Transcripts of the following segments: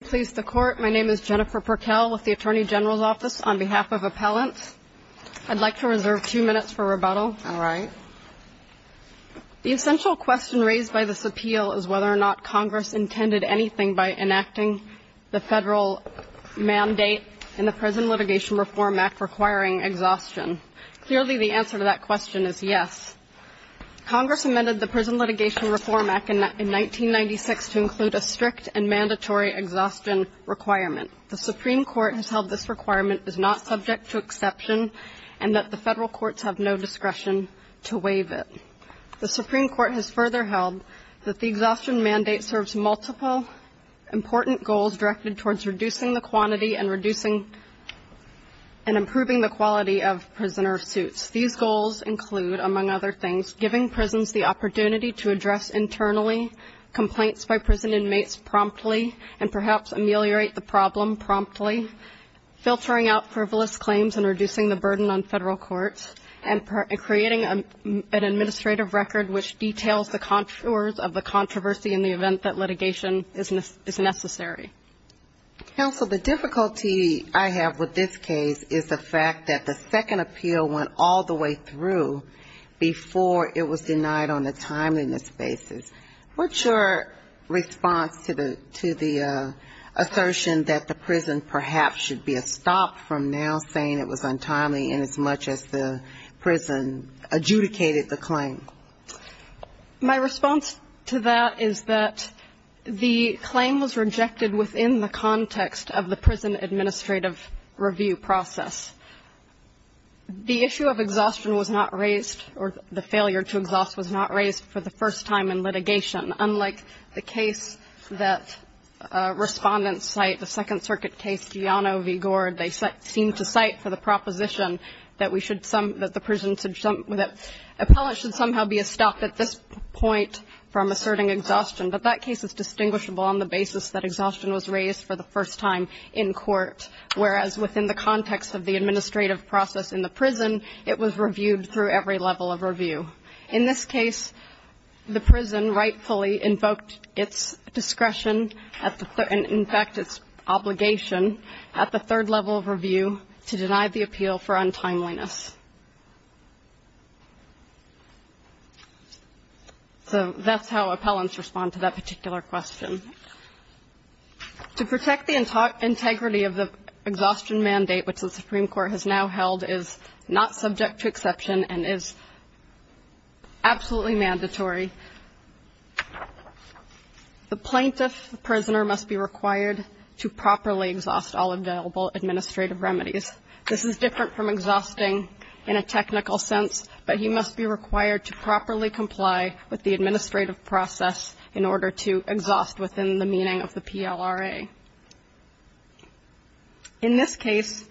PLEASE THE COURT. MY NAME IS JENNIFER PERKEL WITH THE ATTORNEY GENERAL'S OFFICE. ON BEHALF OF APPELLANT, I'D LIKE TO RESERVE TWO MINUTES FOR REBUTTAL. ALRIGHT. THE ESSENTIAL QUESTION RAISED BY THIS APPEAL IS WHETHER OR NOT CONGRESS INTENDED ANYTHING BY ENACTING THE FEDERAL MANDATE IN THE PRISON LITIGATION REFORM ACT REQUIRING EXHAUSTION. CLEARLY, THE ANSWER TO THAT QUESTION IS YES. CONGRESS AMENDED THE PRISON LITIGATION REFORM ACT IN 1996 TO INCLUDE A STRICT AND MANDATORY EXHAUSTION REQUIREMENT. THE SUPREME COURT HAS HELD THIS REQUIREMENT IS NOT SUBJECT TO EXCEPTION AND THAT THE FEDERAL COURTS HAVE NO DISCRETION TO WAIVE IT. THE SUPREME COURT HAS FURTHER HELD THAT THE EXHAUSTION MANDATE SERVES MULTIPLE IMPORTANT GOALS DIRECTED TOWARDS REDUCING THE QUANTITY AND REDUCING AND IMPROVING THE QUALITY OF PRISONER SUITS. THESE GOALS INCLUDE, AMONG OTHER THINGS, GIVING PRISONS THE OPPORTUNITY TO ADDRESS INTERNALLY COMPLAINTS BY PRISON INMATES PROMPTLY AND PERHAPS AMELIORATE THE PROBLEM PROMPTLY, FILTERING OUT FRIVOLOUS CLAIMS AND REDUCING THE BURDEN ON FEDERAL COURTS, AND CREATING AN ADMINISTRATIVE RECORD WHICH DETAILS THE CONTOURS OF THE CONTROVERSY IN THE EVENT THAT LITIGATION IS NECESSARY. COUNSEL, THE DIFFICULTY I HAVE WITH THIS CASE IS THE FACT THAT THE SECOND APPEAL WENT ALL THE WAY THROUGH BEFORE IT WAS DENIED ON A TIMELINESS BASIS. WHAT'S YOUR RESPONSE TO THE ASSERTION THAT THE PRISON PERHAPS SHOULD BE STOPPED FROM NOW SAYING IT WAS UNTIMELY INASMUCH AS THE PRISON ADJUDICATED THE CLAIM? MY RESPONSE TO THAT IS THAT THE CLAIM WAS REJECTED WITHIN THE CONTEXT OF THE PRISON ADMINISTRATIVE REVIEW PROCESS. THE ISSUE OF EXHAUSTION WAS NOT RAISED, OR THE FAILURE TO EXHAUST WAS NOT RAISED FOR THE FIRST TIME IN LITIGATION. UNLIKE THE CASE THAT RESPONDENTS CITE, THE SECOND CIRCUIT CASE, GIANO V. GORDE, THEY SEEM TO CITE FOR THE PROPOSITION THAT WE SHOULD SOME, THAT THE PRISON SHOULD, THAT APPELLATES SHOULD SOMEHOW BE STOPPED AT THIS POINT FROM ASSERTING EXHAUSTION. BUT THAT CASE IS DISTINGUISHABLE ON THE BASIS THAT EXHAUSTION WAS RAISED FOR THE FIRST TIME IN COURT, WHEREAS WITHIN THE CONTEXT OF THE ADMINISTRATIVE PROCESS IN THE PRISON, IT WAS REVIEWED THROUGH EVERY LEVEL OF REVIEW. IN THIS CASE, THE PRISON RIGHTFULLY INVOKED ITS DISCRETION, IN FACT, ITS OBLIGATION AT THE THIRD LEVEL OF REVIEW TO DENY THE APPEAL FOR UNTIMELINESS. SO THAT'S HOW APPELLANTS RESPOND TO THAT PARTICULAR QUESTION. TO PROTECT THE INTEGRITY OF THE EXHAUSTION MANDATE, WHICH THE SUPREME COURT HAS NOW HELD, IS NOT SUBJECT TO EXCEPTION AND IS ABSOLUTELY MANDATORY. THE PLAINTIFF PRISONER MUST BE REQUIRED TO PROPERLY EXHAUST ALL AVAILABLE ADMINISTRATIVE REMEDIES. THIS IS DIFFERENT FROM EXHAUSTING IN A TECHNICAL SENSE, BUT HE MUST BE REQUIRED TO PROPERLY COMPLY WITH THE ADMINISTRATIVE PROCESS IN ORDER TO EXHAUST WITHIN THE MEANING OF THE PLRA. IN THIS CASE,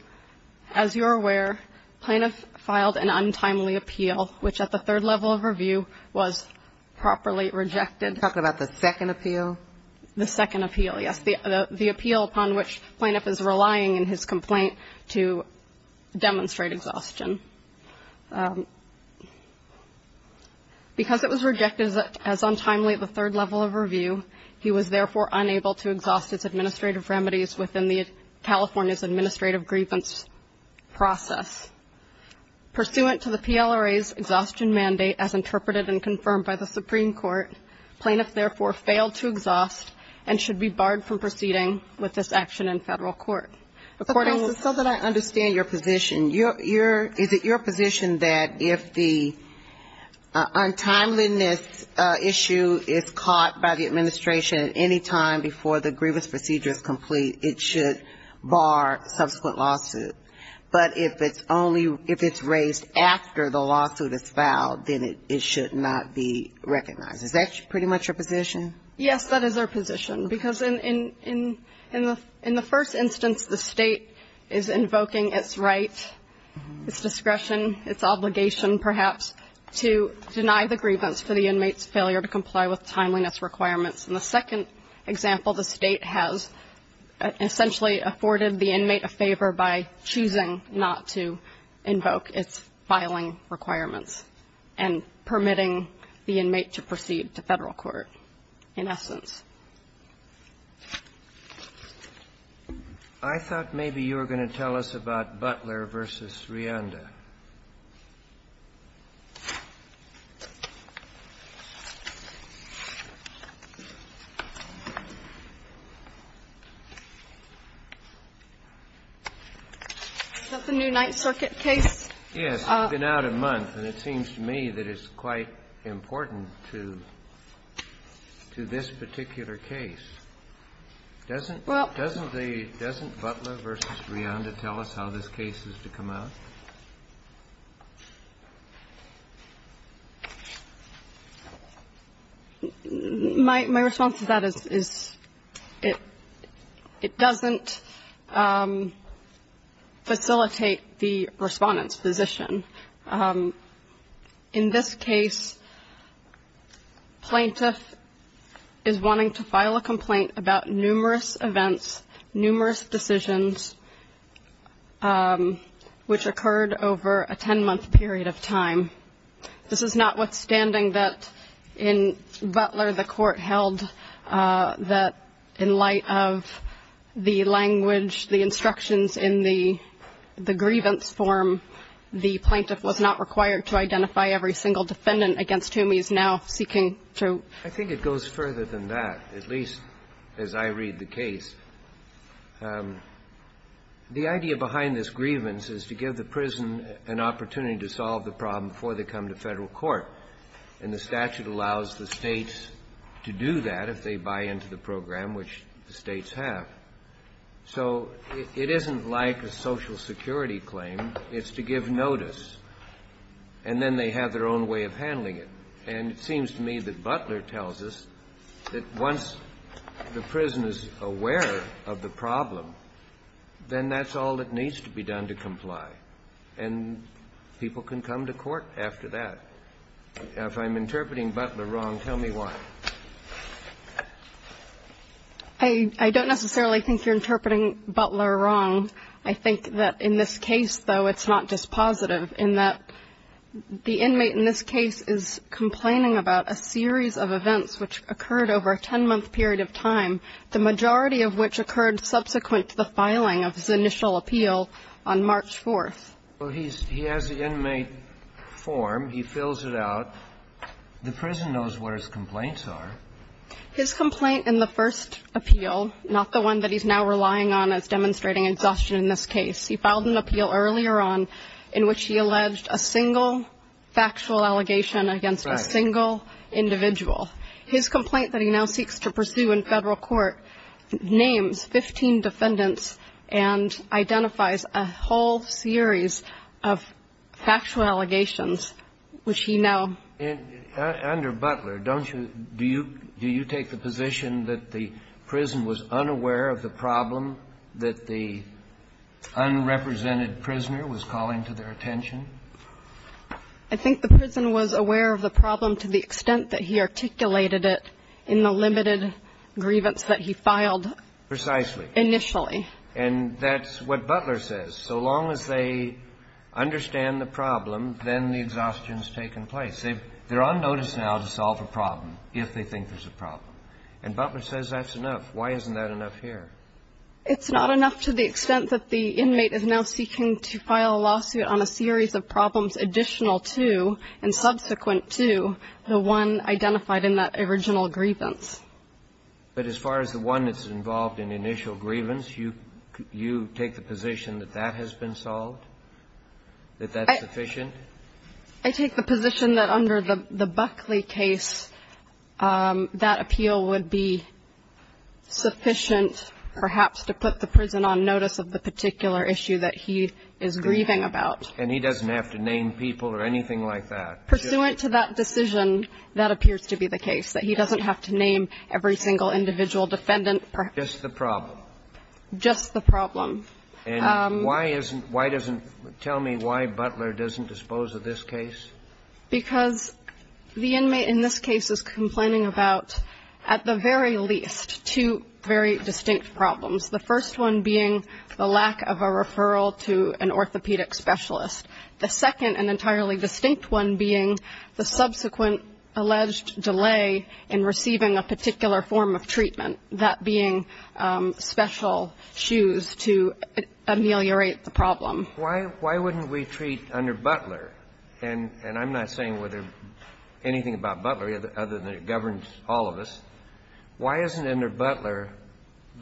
AS YOU'RE AWARE, PLAINTIFF FILED AN UNTIMELY APPEAL, WHICH AT THE THIRD LEVEL OF REVIEW WAS PROPERLY REJECTED. AND I'M GOING TO TALK ABOUT THE SECOND APPEAL. THE SECOND APPEAL, YES, THE APPEAL UPON WHICH PLAINTIFF IS RELYING IN HIS COMPLAINT TO DEMONSTRATE EXHAUSTION. BECAUSE IT WAS REJECTED AS UNTIMELY AT THE THIRD LEVEL OF REVIEW, HE WAS THEREFORE UNABLE TO EXHAUST HIS ADMINISTRATIVE REMEDIES WITHIN THE CALIFORNIA'S ADMINISTRATIVE GRIEVANCE PROCESS. PURSUANT TO THE PLRA'S EXHAUSTION MANDATE AS INTERPRETED AND CONFIRMED BY THE SUPREME COURT, PLAINTIFF THEREFORE FAILED TO EXHAUST AND SHOULD BE BARRED FROM PROCEEDING WITH THIS ACTION IN FEDERAL COURT. So that I understand your position, is it your position that if the untimeliness issue is caught by the administration at any time before the lawsuit is filed, then it should not be recognized? Is that pretty much your position? Yes, that is our position. Because in the first instance, the state is invoking its right, its discretion, its obligation, perhaps, to deny the grievance for the inmate's failure to comply with timeliness requirements. In the second example, the state has essentially imposed a penalty on the inmate for failing to comply with timeliness requirements. And the state has essentially afforded the inmate a favor by choosing not to invoke its filing requirements and permitting the inmate to proceed to Federal court, in essence. I thought maybe you were going to tell us about Butler v. Rianda. Is that the new Ninth Circuit case? Yes. It's been out a month, and it seems to me that it's quite important to this particular case. Doesn't Butler v. Rianda tell us how this case is to come out? My response to that is it doesn't facilitate the Respondent's position. In this case, plaintiff is wanting to file a complaint about numerous events, numerous decisions, which occurred over a 10-month period of time. This is notwithstanding that in Butler, the court held that in light of the language, the instructions in the grievance form, the plaintiff's was not required to identify every single defendant against whom he is now seeking to. I think it goes further than that, at least as I read the case. The idea behind this grievance is to give the prison an opportunity to solve the problem before they come to Federal court. And the statute allows the states to do that if they buy into the program, which the states have. So it isn't like a Social Security claim. It's to give notice, and then they have their own way of handling it. And it seems to me that Butler tells us that once the prison is aware of the problem, then that's all that needs to be done to comply. And people can come to court after that. If I'm interpreting Butler wrong, tell me why. I don't necessarily think you're interpreting Butler wrong. I think that in this case, though, it's not just positive in that the inmate in this case is complaining about a series of events which occurred over a 10-month period of time, the majority of which occurred subsequent to the filing of his initial appeal on March 4th. Well, he has the inmate form. He fills it out. The prison knows what his complaints are. His complaint in the first appeal, not the one that he's now relying on as demonstrating exhaustion in this case, he filed an appeal earlier on in which he alleged a single factual allegation against a single individual. His complaint that he now seeks to pursue in Federal court names 15 defendants and identifies a whole series of factual allegations which he now. And under Butler, don't you do you take the position that the prison was unaware of the problem, that the unrepresented prisoner was calling to their attention? I think the prison was aware of the problem to the extent that he articulated it in the limited grievance that he filed. Precisely. Initially. And that's what Butler says. So long as they understand the problem, then the exhaustion has taken place. They're on notice now to solve a problem if they think there's a problem. And Butler says that's enough. Why isn't that enough here? It's not enough to the extent that the inmate is now seeking to file a lawsuit on a series of problems additional to and subsequent to the one identified in that original grievance. But as far as the one that's involved in initial grievance, you take the position that that has been solved, that that's sufficient? I take the position that under the Buckley case, that appeal would be sufficient perhaps to put the prison on notice of the particular issue that he is grieving about. And he doesn't have to name people or anything like that? Pursuant to that decision, that appears to be the case, that he doesn't have to name every single individual defendant. Just the problem? Just the problem. And why isn't why doesn't tell me why Butler doesn't dispose of this case? Because the inmate in this case is complaining about, at the very least, two very distinct problems. The first one being the lack of a referral to an orthopedic specialist. The second and entirely distinct one being the subsequent alleged delay in receiving a particular form of treatment, that being special shoes to ameliorate the problem. Why wouldn't we treat under Butler? And I'm not saying anything about Butler other than it governs all of us. Why isn't under Butler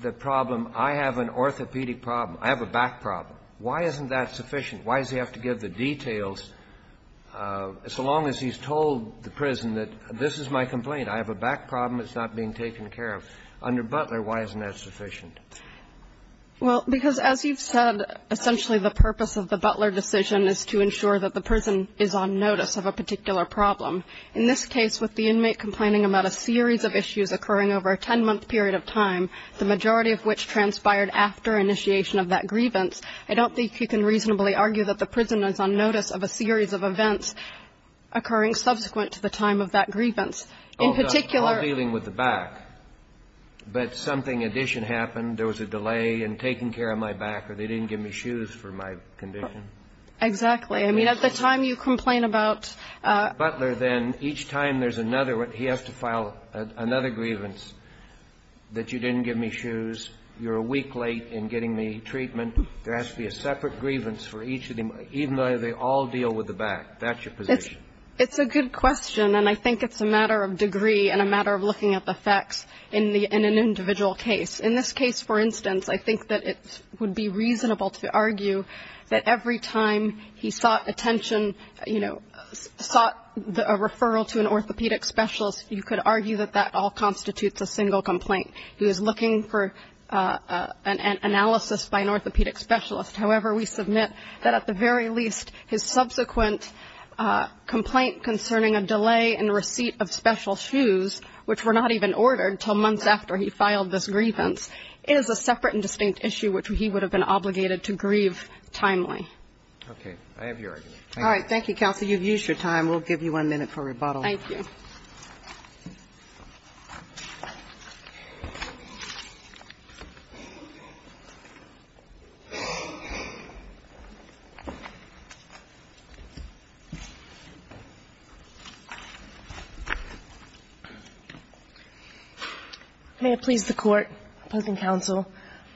the problem, I have an orthopedic problem, I have a back problem? Why isn't that sufficient? Why does he have to give the details so long as he's told the prison that this is my complaint, I have a back problem, it's not being taken care of? Under Butler, why isn't that sufficient? Well, because as you've said, essentially the purpose of the Butler decision is to ensure that the prison is on notice of a particular problem. In this case, with the inmate complaining about a series of issues occurring over a 10-month period of time, the majority of which transpired after initiation of that grievance, I don't think you can reasonably argue that the prison is on notice of a series of events occurring subsequent to the time of that grievance. In particular ---- All dealing with the back. But something additional happened, there was a delay in taking care of my back or they didn't give me shoes for my condition. Exactly. I mean, at the time you complain about ---- Butler then, each time there's another, he has to file another grievance that you didn't give me shoes, you're a week late in getting me treatment. There has to be a separate grievance for each of the inmates, even though they all deal with the back. That's your position. It's a good question, and I think it's a matter of degree and a matter of looking at the facts in an individual case. In this case, for instance, I think that it would be reasonable to argue that every time he sought attention, you know, sought a referral to an orthopedic specialist, you could argue that that all constitutes a single complaint. He was looking for an analysis by an orthopedic specialist. However, we submit that at the very least, his subsequent complaint concerning a delay in receipt of special shoes, which were not even ordered until months after he filed this grievance, is a separate and distinct issue which he would have been obligated to grieve timely. Okay. Thank you. All right. Thank you, counsel. You've used your time. We'll give you one minute for rebuttal. Thank you. May it please the Court, opposing counsel.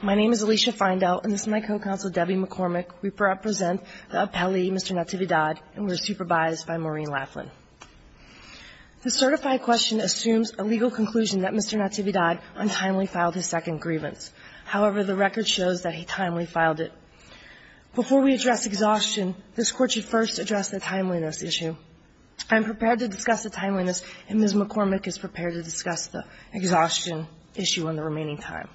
My name is Alicia Feindel, and this is my co-counsel, Debbie McCormick. We present the appellee, Mr. Natividad, and we're supervised by Maureen Laughlin. The certified question assumes a legal conclusion that Mr. Natividad untimely filed his second grievance. However, the record shows that he timely filed it. Before we address exhaustion, this Court should first address the timeliness issue. I'm prepared to discuss the timeliness, and Ms. McCormick is prepared to discuss the exhaustion issue in the remaining time.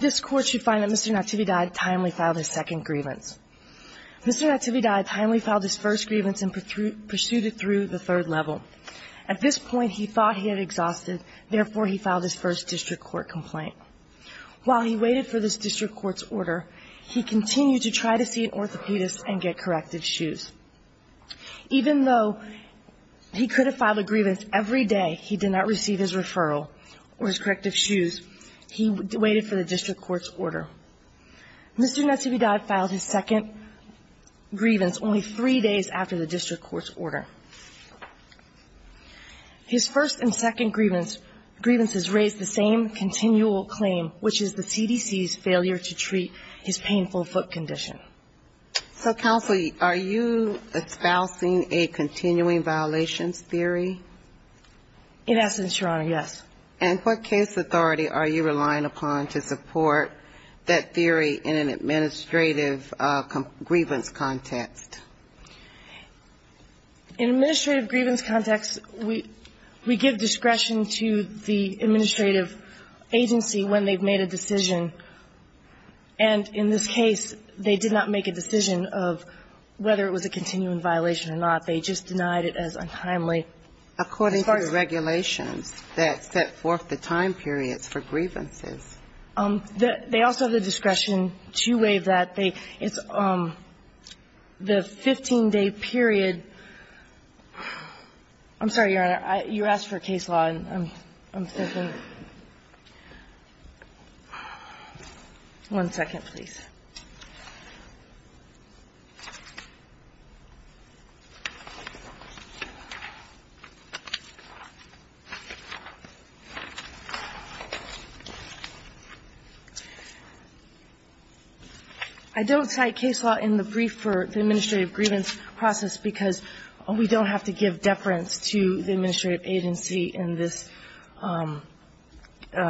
This Court should find that Mr. Natividad timely filed his second grievance. Mr. Natividad timely filed his first grievance and pursued it through the third level. At this point, he thought he had exhausted, therefore, he filed his first district court complaint. While he waited for this district court's order, he continued to try to see an orthopedist and get corrected shoes. He did not receive his referral or his corrective shoes. He waited for the district court's order. Mr. Natividad filed his second grievance only three days after the district court's order. His first and second grievances raised the same continual claim, which is the CDC's failure to treat his painful foot condition. So, counsel, are you espousing a continuing violations theory? In essence, Your Honor, yes. And what case authority are you relying upon to support that theory in an administrative grievance context? In an administrative grievance context, we give discretion to the administrative agency when they've made a decision, and in this case, they did not make a decision of whether it was a continuing violation or not. They just denied it as untimely. According to the regulations that set forth the time periods for grievances. They also have the discretion to waive that. It's the 15-day period. I'm sorry, Your Honor. You asked for case law, and I'm thinking. One second, please. I don't cite case law in the brief for the administrative grievance process because we don't have to give deference to the administrative agency in this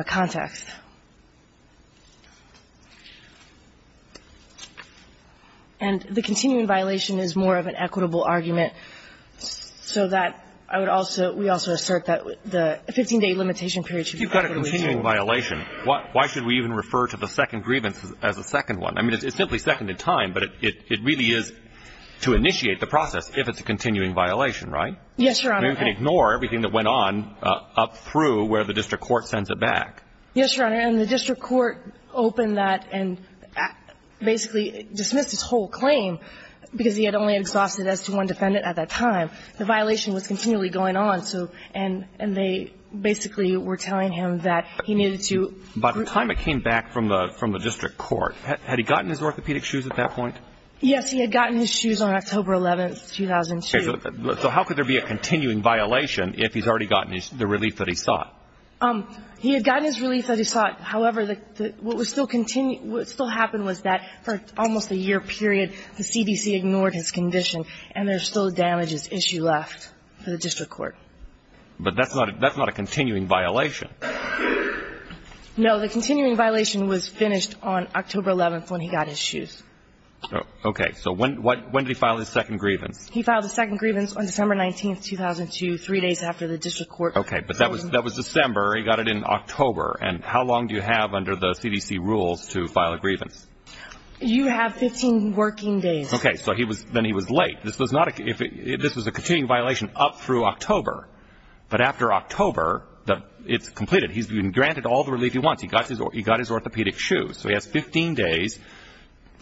context. And the continuing violation is more of an equitable argument, so that I would also – we also assert that the 15-day limitation period should be equitable. If you've got a continuing violation, why should we even refer to the second grievance as a second one? I mean, it's simply second in time, but it really is to initiate the process if it's a continuing violation, right? Yes, Your Honor. We can ignore everything that went on up through where the district court sends it back. Yes, Your Honor. And the district court opened that and basically dismissed his whole claim because he had only exhausted it as to one defendant at that time. The violation was continually going on, and they basically were telling him that he needed to. By the time it came back from the district court, had he gotten his orthopedic shoes at that point? Yes, he had gotten his shoes on October 11, 2002. So how could there be a continuing violation if he's already gotten the relief that he sought? He had gotten his relief that he sought. However, what still happened was that for almost a year period, the CDC ignored his condition, and there's still a damages issue left for the district court. But that's not a continuing violation. No. The continuing violation was finished on October 11 when he got his shoes. Okay. So when did he file his second grievance? He filed his second grievance on December 19, 2002, three days after the district court opened. Okay. But that was December. He got it in October. And how long do you have under the CDC rules to file a grievance? You have 15 working days. Okay. So then he was late. This was a continuing violation up through October. But after October, it's completed. He's been granted all the relief he wants. He got his orthopedic shoes. So he has 15 days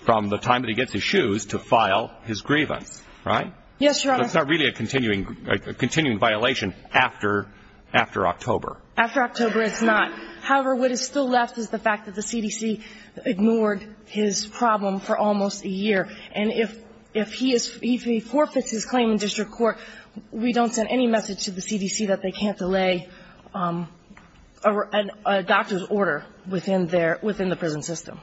from the time that he gets his shoes to file his grievance, right? Yes, Your Honor. So it's not really a continuing violation after October. After October, it's not. However, what is still left is the fact that the CDC ignored his problem for almost a year. And if he forfeits his claim in district court, we don't send any message to the CDC that they can't delay a doctor's order within the prison system.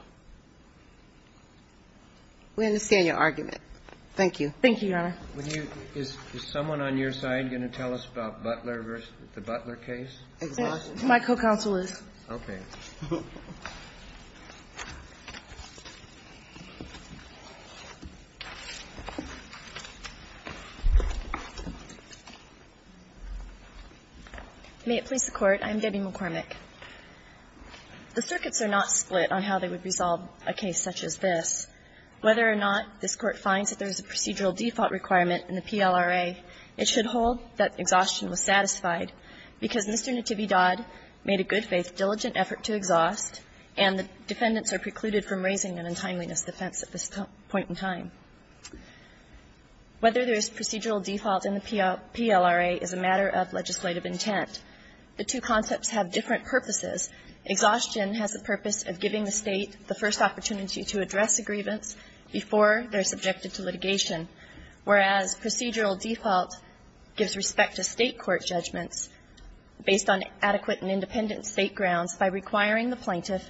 Thank you. Thank you, Your Honor. Is someone on your side going to tell us about Butler versus the Butler case? My co-counsel is. Okay. May it please the Court. I'm Debbie McCormick. The circuits are not split on how they would resolve a case such as this. Whether or not this Court finds that there is a procedural default requirement in the PLRA, it should hold that exhaustion was satisfied because Mr. Nativi Dodd made a good-faith, diligent effort to exhaust, and the defendants are precluded from raising an untimeliness defense at this point in time. Whether there is procedural default in the PLRA is a matter of legislative intent. The two concepts have different purposes. Exhaustion has the purpose of giving the State the first opportunity to address a grievance before they're subjected to litigation, whereas procedural default gives respect to State court judgments based on adequate and independent State grounds by requiring the plaintiff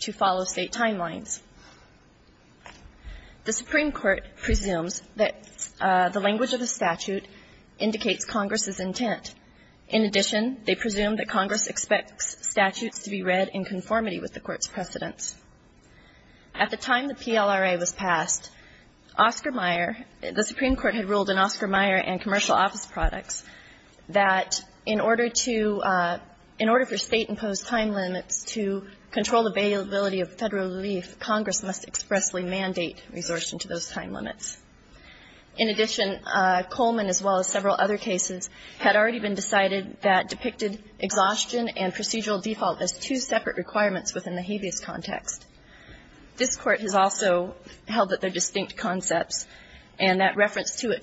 to follow State timelines. The Supreme Court presumes that the language of the statute indicates Congress's intent. In addition, they presume that Congress expects statutes to be read in conformity with the Court's precedents. At the time the PLRA was passed, Oscar Meyer, the Supreme Court had ruled in Oscar Meyer and commercial office products that in order to, in order for State-imposed time limits to control availability of Federal relief, Congress must expressly mandate resortion to those time limits. In addition, Coleman, as well as several other cases, had already been decided that depicted exhaustion and procedural default as two separate requirements within the habeas context. This Court has also held that they're distinct concepts and that reference to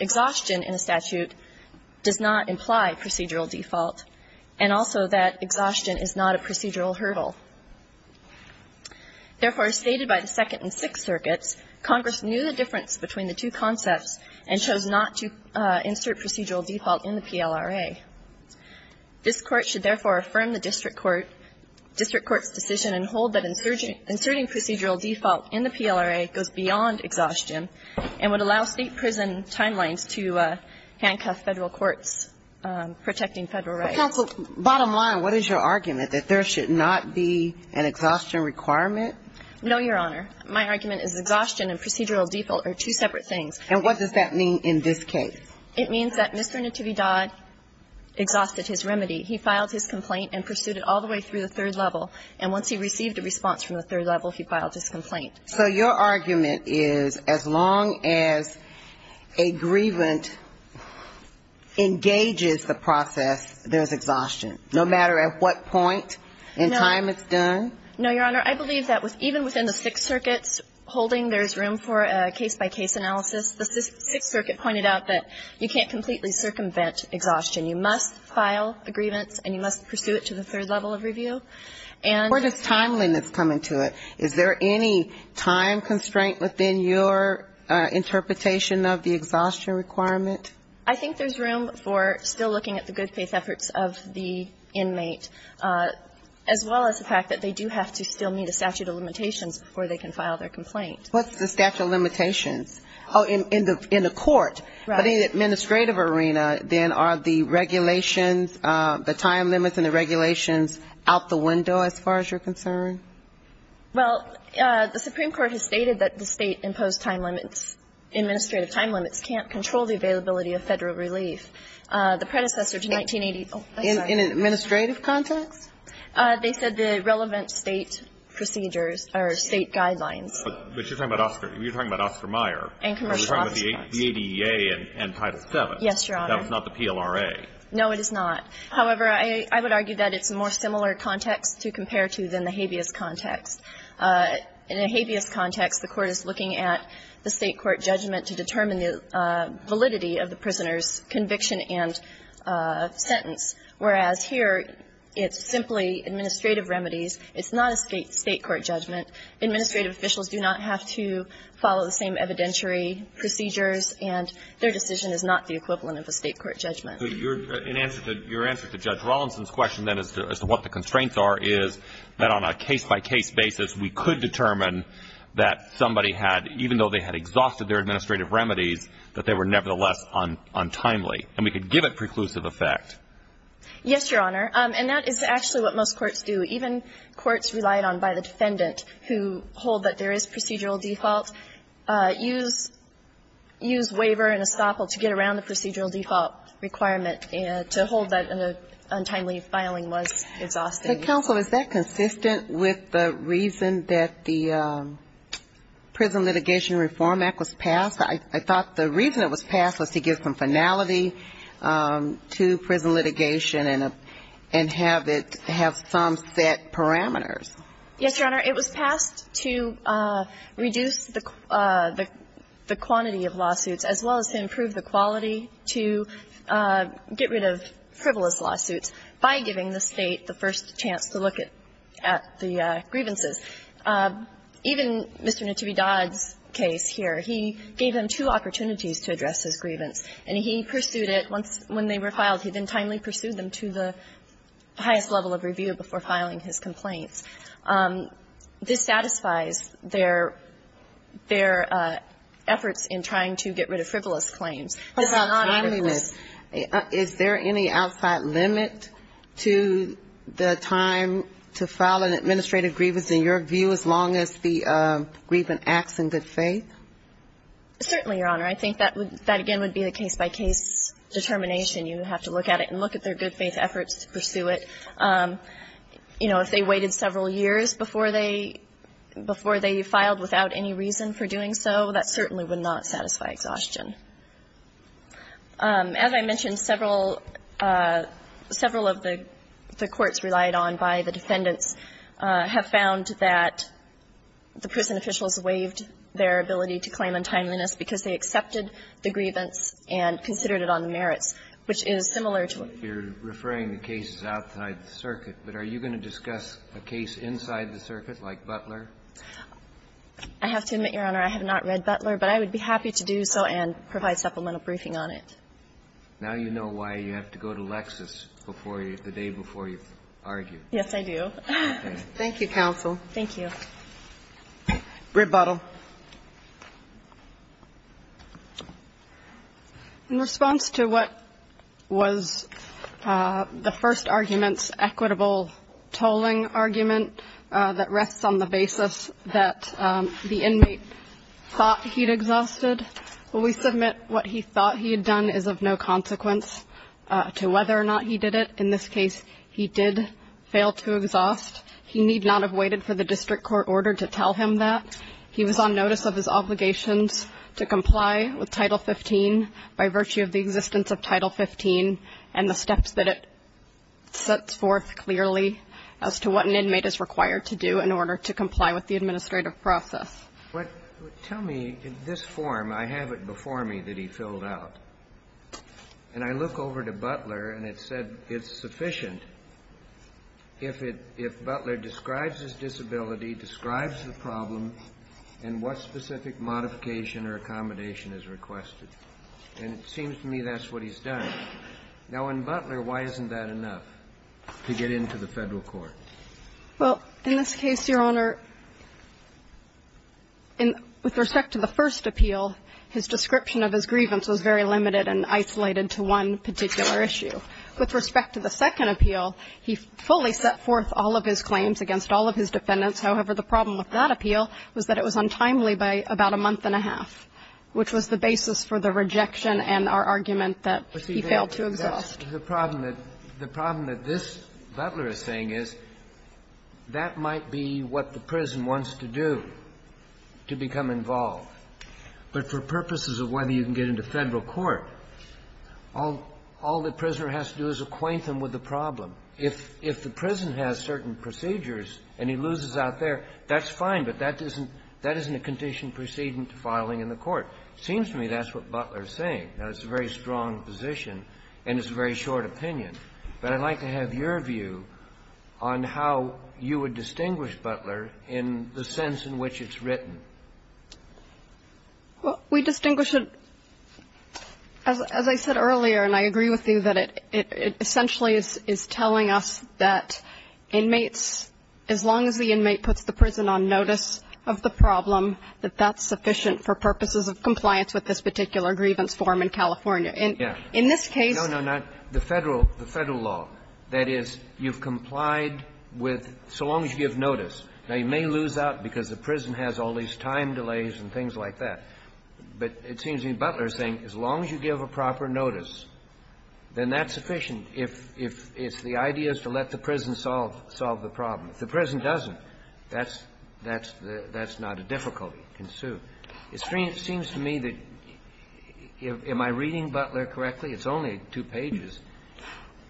exhaustion in a statute does not imply procedural default, and also that exhaustion is not a procedural hurdle. Therefore, as stated by the Second and Sixth Circuits, Congress knew the difference between the two concepts and chose not to insert procedural default in the PLRA. This Court should therefore affirm the district court, district court's decision and hold that inserting procedural default in the PLRA goes beyond exhaustion and would allow State prison timelines to handcuff Federal courts protecting Federal rights. So, counsel, bottom line, what is your argument, that there should not be an exhaustion requirement? No, Your Honor. My argument is exhaustion and procedural default are two separate things. And what does that mean in this case? It means that Mr. Natividad exhausted his remedy. He filed his complaint and pursued it all the way through the third level, and once he received a response from the third level, he filed his complaint. So your argument is as long as a grievant engages the process, there's exhaustion, no matter at what point in time it's done? No, Your Honor. I believe that even within the Sixth Circuits holding there's room for a case-by-case analysis, the Sixth Circuit pointed out that you can't completely circumvent exhaustion. You must file a grievance and you must pursue it to the third level of review. Where does time limits come into it? Is there any time constraint within your interpretation of the exhaustion requirement? I think there's room for still looking at the good faith efforts of the inmate, as well as the fact that they do have to still meet a statute of limitations before they can file their complaint. What's the statute of limitations? Oh, in the court. Right. But in the administrative arena, then, are the regulations, the time limits and the exhaustion requirements, are they within the window as far as you're concerned? Well, the Supreme Court has stated that the State-imposed time limits, administrative time limits, can't control the availability of Federal relief. The predecessor to 1980 ---- In an administrative context? They said the relevant State procedures or State guidelines. But you're talking about Oscar. You're talking about Oscar Meyer. And commercial office cuts. You're talking about the ADEA and Title VII. Yes, Your Honor. That was not the PLRA. No, it is not. However, I would argue that it's a more similar context to compare to than the habeas context. In a habeas context, the Court is looking at the State court judgment to determine the validity of the prisoner's conviction and sentence, whereas here it's simply administrative remedies. It's not a State court judgment. Administrative officials do not have to follow the same evidentiary procedures, and their decision is not the equivalent of a State court judgment. So your answer to Judge Rawlinson's question then as to what the constraints are is that on a case-by-case basis, we could determine that somebody had, even though they had exhausted their administrative remedies, that they were nevertheless untimely, and we could give it preclusive effect. Yes, Your Honor. And that is actually what most courts do. Even courts relied on by the defendant who hold that there is procedural default use waiver and estoppel to get around the procedural default requirement and to hold that untimely filing was exhausting. But, counsel, is that consistent with the reason that the Prison Litigation Reform Act was passed? I thought the reason it was passed was to give some finality to prison litigation and have it have some set parameters. Yes, Your Honor. It was passed to reduce the quantity of lawsuits as well as to improve the quality to get rid of frivolous lawsuits by giving the State the first chance to look at the grievances. Even Mr. Natibbi-Dodd's case here, he gave him two opportunities to address his grievance. And he pursued it once when they were filed. He then timely pursued them to the highest level of review before filing his complaints. This satisfies their efforts in trying to get rid of frivolous claims. But about timeliness, is there any outside limit to the time to file an administrative grievance in your view as long as the grievance acts in good faith? Certainly, Your Honor. I think that, again, would be a case-by-case determination. You would have to look at it and look at their good faith efforts to pursue it. You know, if they waited several years before they filed without any reason for doing so, that certainly would not satisfy exhaustion. As I mentioned, several of the courts relied on by the defendants have found that the prison officials waived their ability to claim untimeliness because they accepted the grievance and considered it on the merits, which is similar to what you're referring to cases outside the circuit. But are you going to discuss a case inside the circuit, like Butler? I have to admit, Your Honor, I have not read Butler. But I would be happy to do so and provide supplemental briefing on it. Now you know why you have to go to Lexis before you, the day before you argue. Yes, I do. Thank you, counsel. Thank you. Rebuttal. In response to what was the first argument's equitable tolling argument that rests on the basis that the inmate thought he'd exhausted, we submit what he thought he had done is of no consequence to whether or not he did it. He did not have waited for the district court order to tell him that. He was on notice of his obligations to comply with Title 15 by virtue of the existence of Title 15 and the steps that it sets forth clearly as to what an inmate is required to do in order to comply with the administrative process. Tell me, in this form, I have it before me that he filled out. And I look over to Butler, and it said it's sufficient if it – if Butler describes his disability, describes the problem, and what specific modification or accommodation is requested. And it seems to me that's what he's done. Now, in Butler, why isn't that enough to get into the Federal court? Well, in this case, Your Honor, with respect to the first appeal, his description of his grievance was very limited and isolated to one particular issue. With respect to the second appeal, he fully set forth all of his claims against all of his defendants. However, the problem with that appeal was that it was untimely by about a month and a half, which was the basis for the rejection and our argument that he failed to exhaust. The problem that – the problem that this – Butler is saying is that might be what the prison wants to do to become involved. But for purposes of whether you can get into Federal court, all the prisoner has to do is acquaint them with the problem. If the prison has certain procedures and he loses out there, that's fine, but that isn't – that isn't a condition proceeding to filing in the court. It seems to me that's what Butler is saying. Now, it's a very strong position and it's a very short opinion, but I'd like to have your view on how you would distinguish Butler in the sense in which it's written. Well, we distinguish it – as I said earlier, and I agree with you, that it essentially is telling us that inmates, as long as the inmate puts the prison on notice of the problem, that that's sufficient for purposes of compliance with this particular grievance form in California. And in this case – No, no, not – the Federal – the Federal law. That is, you've complied with – so long as you give notice. Now, you may lose out because the prison has all these time delays and things like that, but it seems to me Butler is saying as long as you give a proper notice, then that's sufficient if – if it's the idea is to let the prison solve – solve the problem. If the prison doesn't, that's – that's the – that's not a difficulty to pursue. It seems to me that – am I reading Butler correctly? It's only two pages.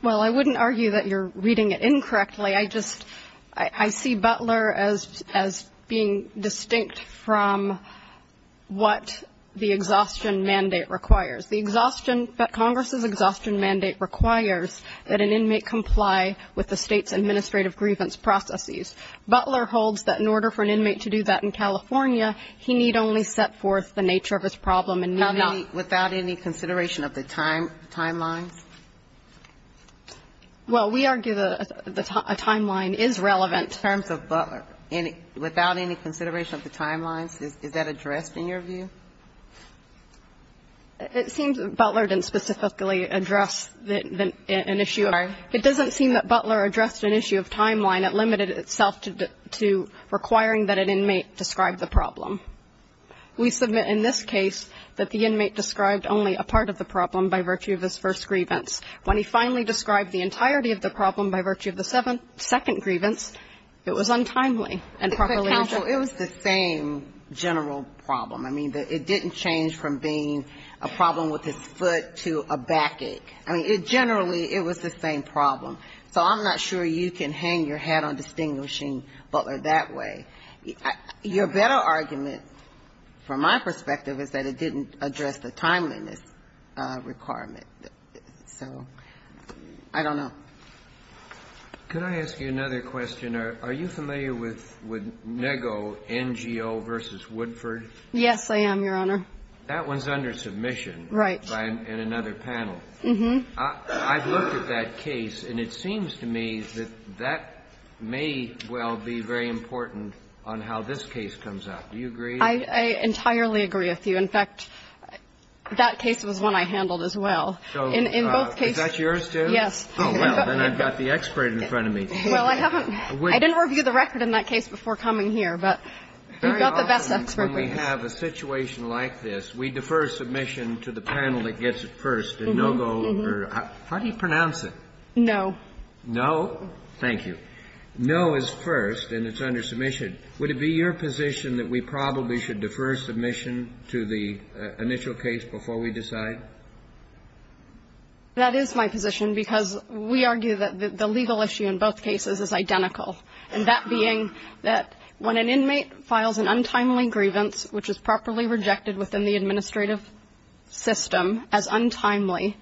Well, I wouldn't argue that you're reading it incorrectly. I just – I see Butler as – as being distinct from what the exhaustion mandate requires. The exhaustion – Congress's exhaustion mandate requires that an inmate comply with the State's administrative grievance processes. Butler holds that in order for an inmate to do that in California, he need only set forth the nature of his problem and not – Now, without any consideration of the time – timelines? Well, we argue that a timeline is relevant. In terms of Butler, without any consideration of the timelines, is that addressed in your view? It seems that Butler didn't specifically address an issue. I'm sorry? It doesn't seem that Butler addressed an issue of timeline. It limited itself to requiring that an inmate describe the problem. We submit in this case that the inmate described only a part of the problem by virtue of his first grievance. When he finally described the entirety of the problem by virtue of the second grievance, it was untimely and properly addressed. But, counsel, it was the same general problem. I mean, it didn't change from being a problem with his foot to a backache. I mean, it generally – it was the same problem. So I'm not sure you can hang your hat on distinguishing Butler that way. Your better argument, from my perspective, is that it didn't address the timeliness requirement. So I don't know. Could I ask you another question? Are you familiar with Nego, NGO v. Woodford? Yes, I am, Your Honor. That one's under submission. Right. In another panel. Mm-hmm. I've looked at that case, and it seems to me that that may well be very important on how this case comes out. Do you agree? I entirely agree with you. In fact, that case was one I handled as well. So is that yours, too? Yes. Oh, well, then I've got the expert in front of me. Well, I haven't – I didn't review the record in that case before coming here, but you've got the best experts. Very often when we have a situation like this, we defer submission to the panel that is in charge. How do you pronounce it? No. No? Thank you. No is first, and it's under submission. Would it be your position that we probably should defer submission to the initial case before we decide? That is my position, because we argue that the legal issue in both cases is identical, and that being that when an inmate files an untimely grievance, which is properly rejected within the administrative system as untimely,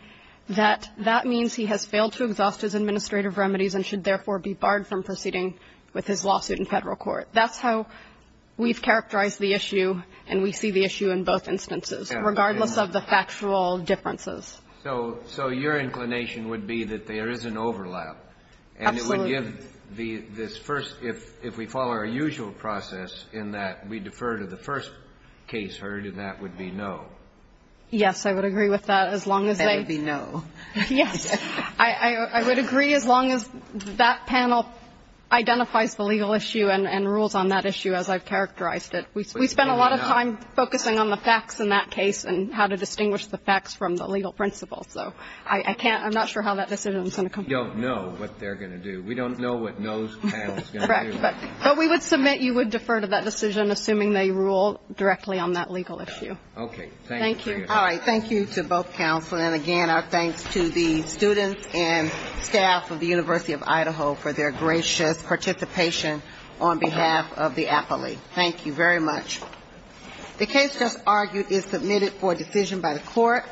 that that means he has failed to exhaust his administrative remedies and should therefore be barred from proceeding with his lawsuit in Federal court. That's how we've characterized the issue, and we see the issue in both instances, regardless of the factual differences. So your inclination would be that there is an overlap. Absolutely. And it would give this first, if we follow our usual process in that we defer to the first case heard, and that would be no. Yes, I would agree with that, as long as they. That would be no. Yes. I would agree as long as that panel identifies the legal issue and rules on that issue, as I've characterized it. We spend a lot of time focusing on the facts in that case and how to distinguish the facts from the legal principles. So I can't, I'm not sure how that decision is going to come. We don't know what they're going to do. We don't know what no panel is going to do. But we would submit you would defer to that decision, assuming they rule directly on that legal issue. Okay. Thank you. All right. Thank you to both counsel. And, again, our thanks to the students and staff of the University of Idaho for their gracious participation on behalf of the appellee. Thank you very much. The case just argued is submitted for decision by the court.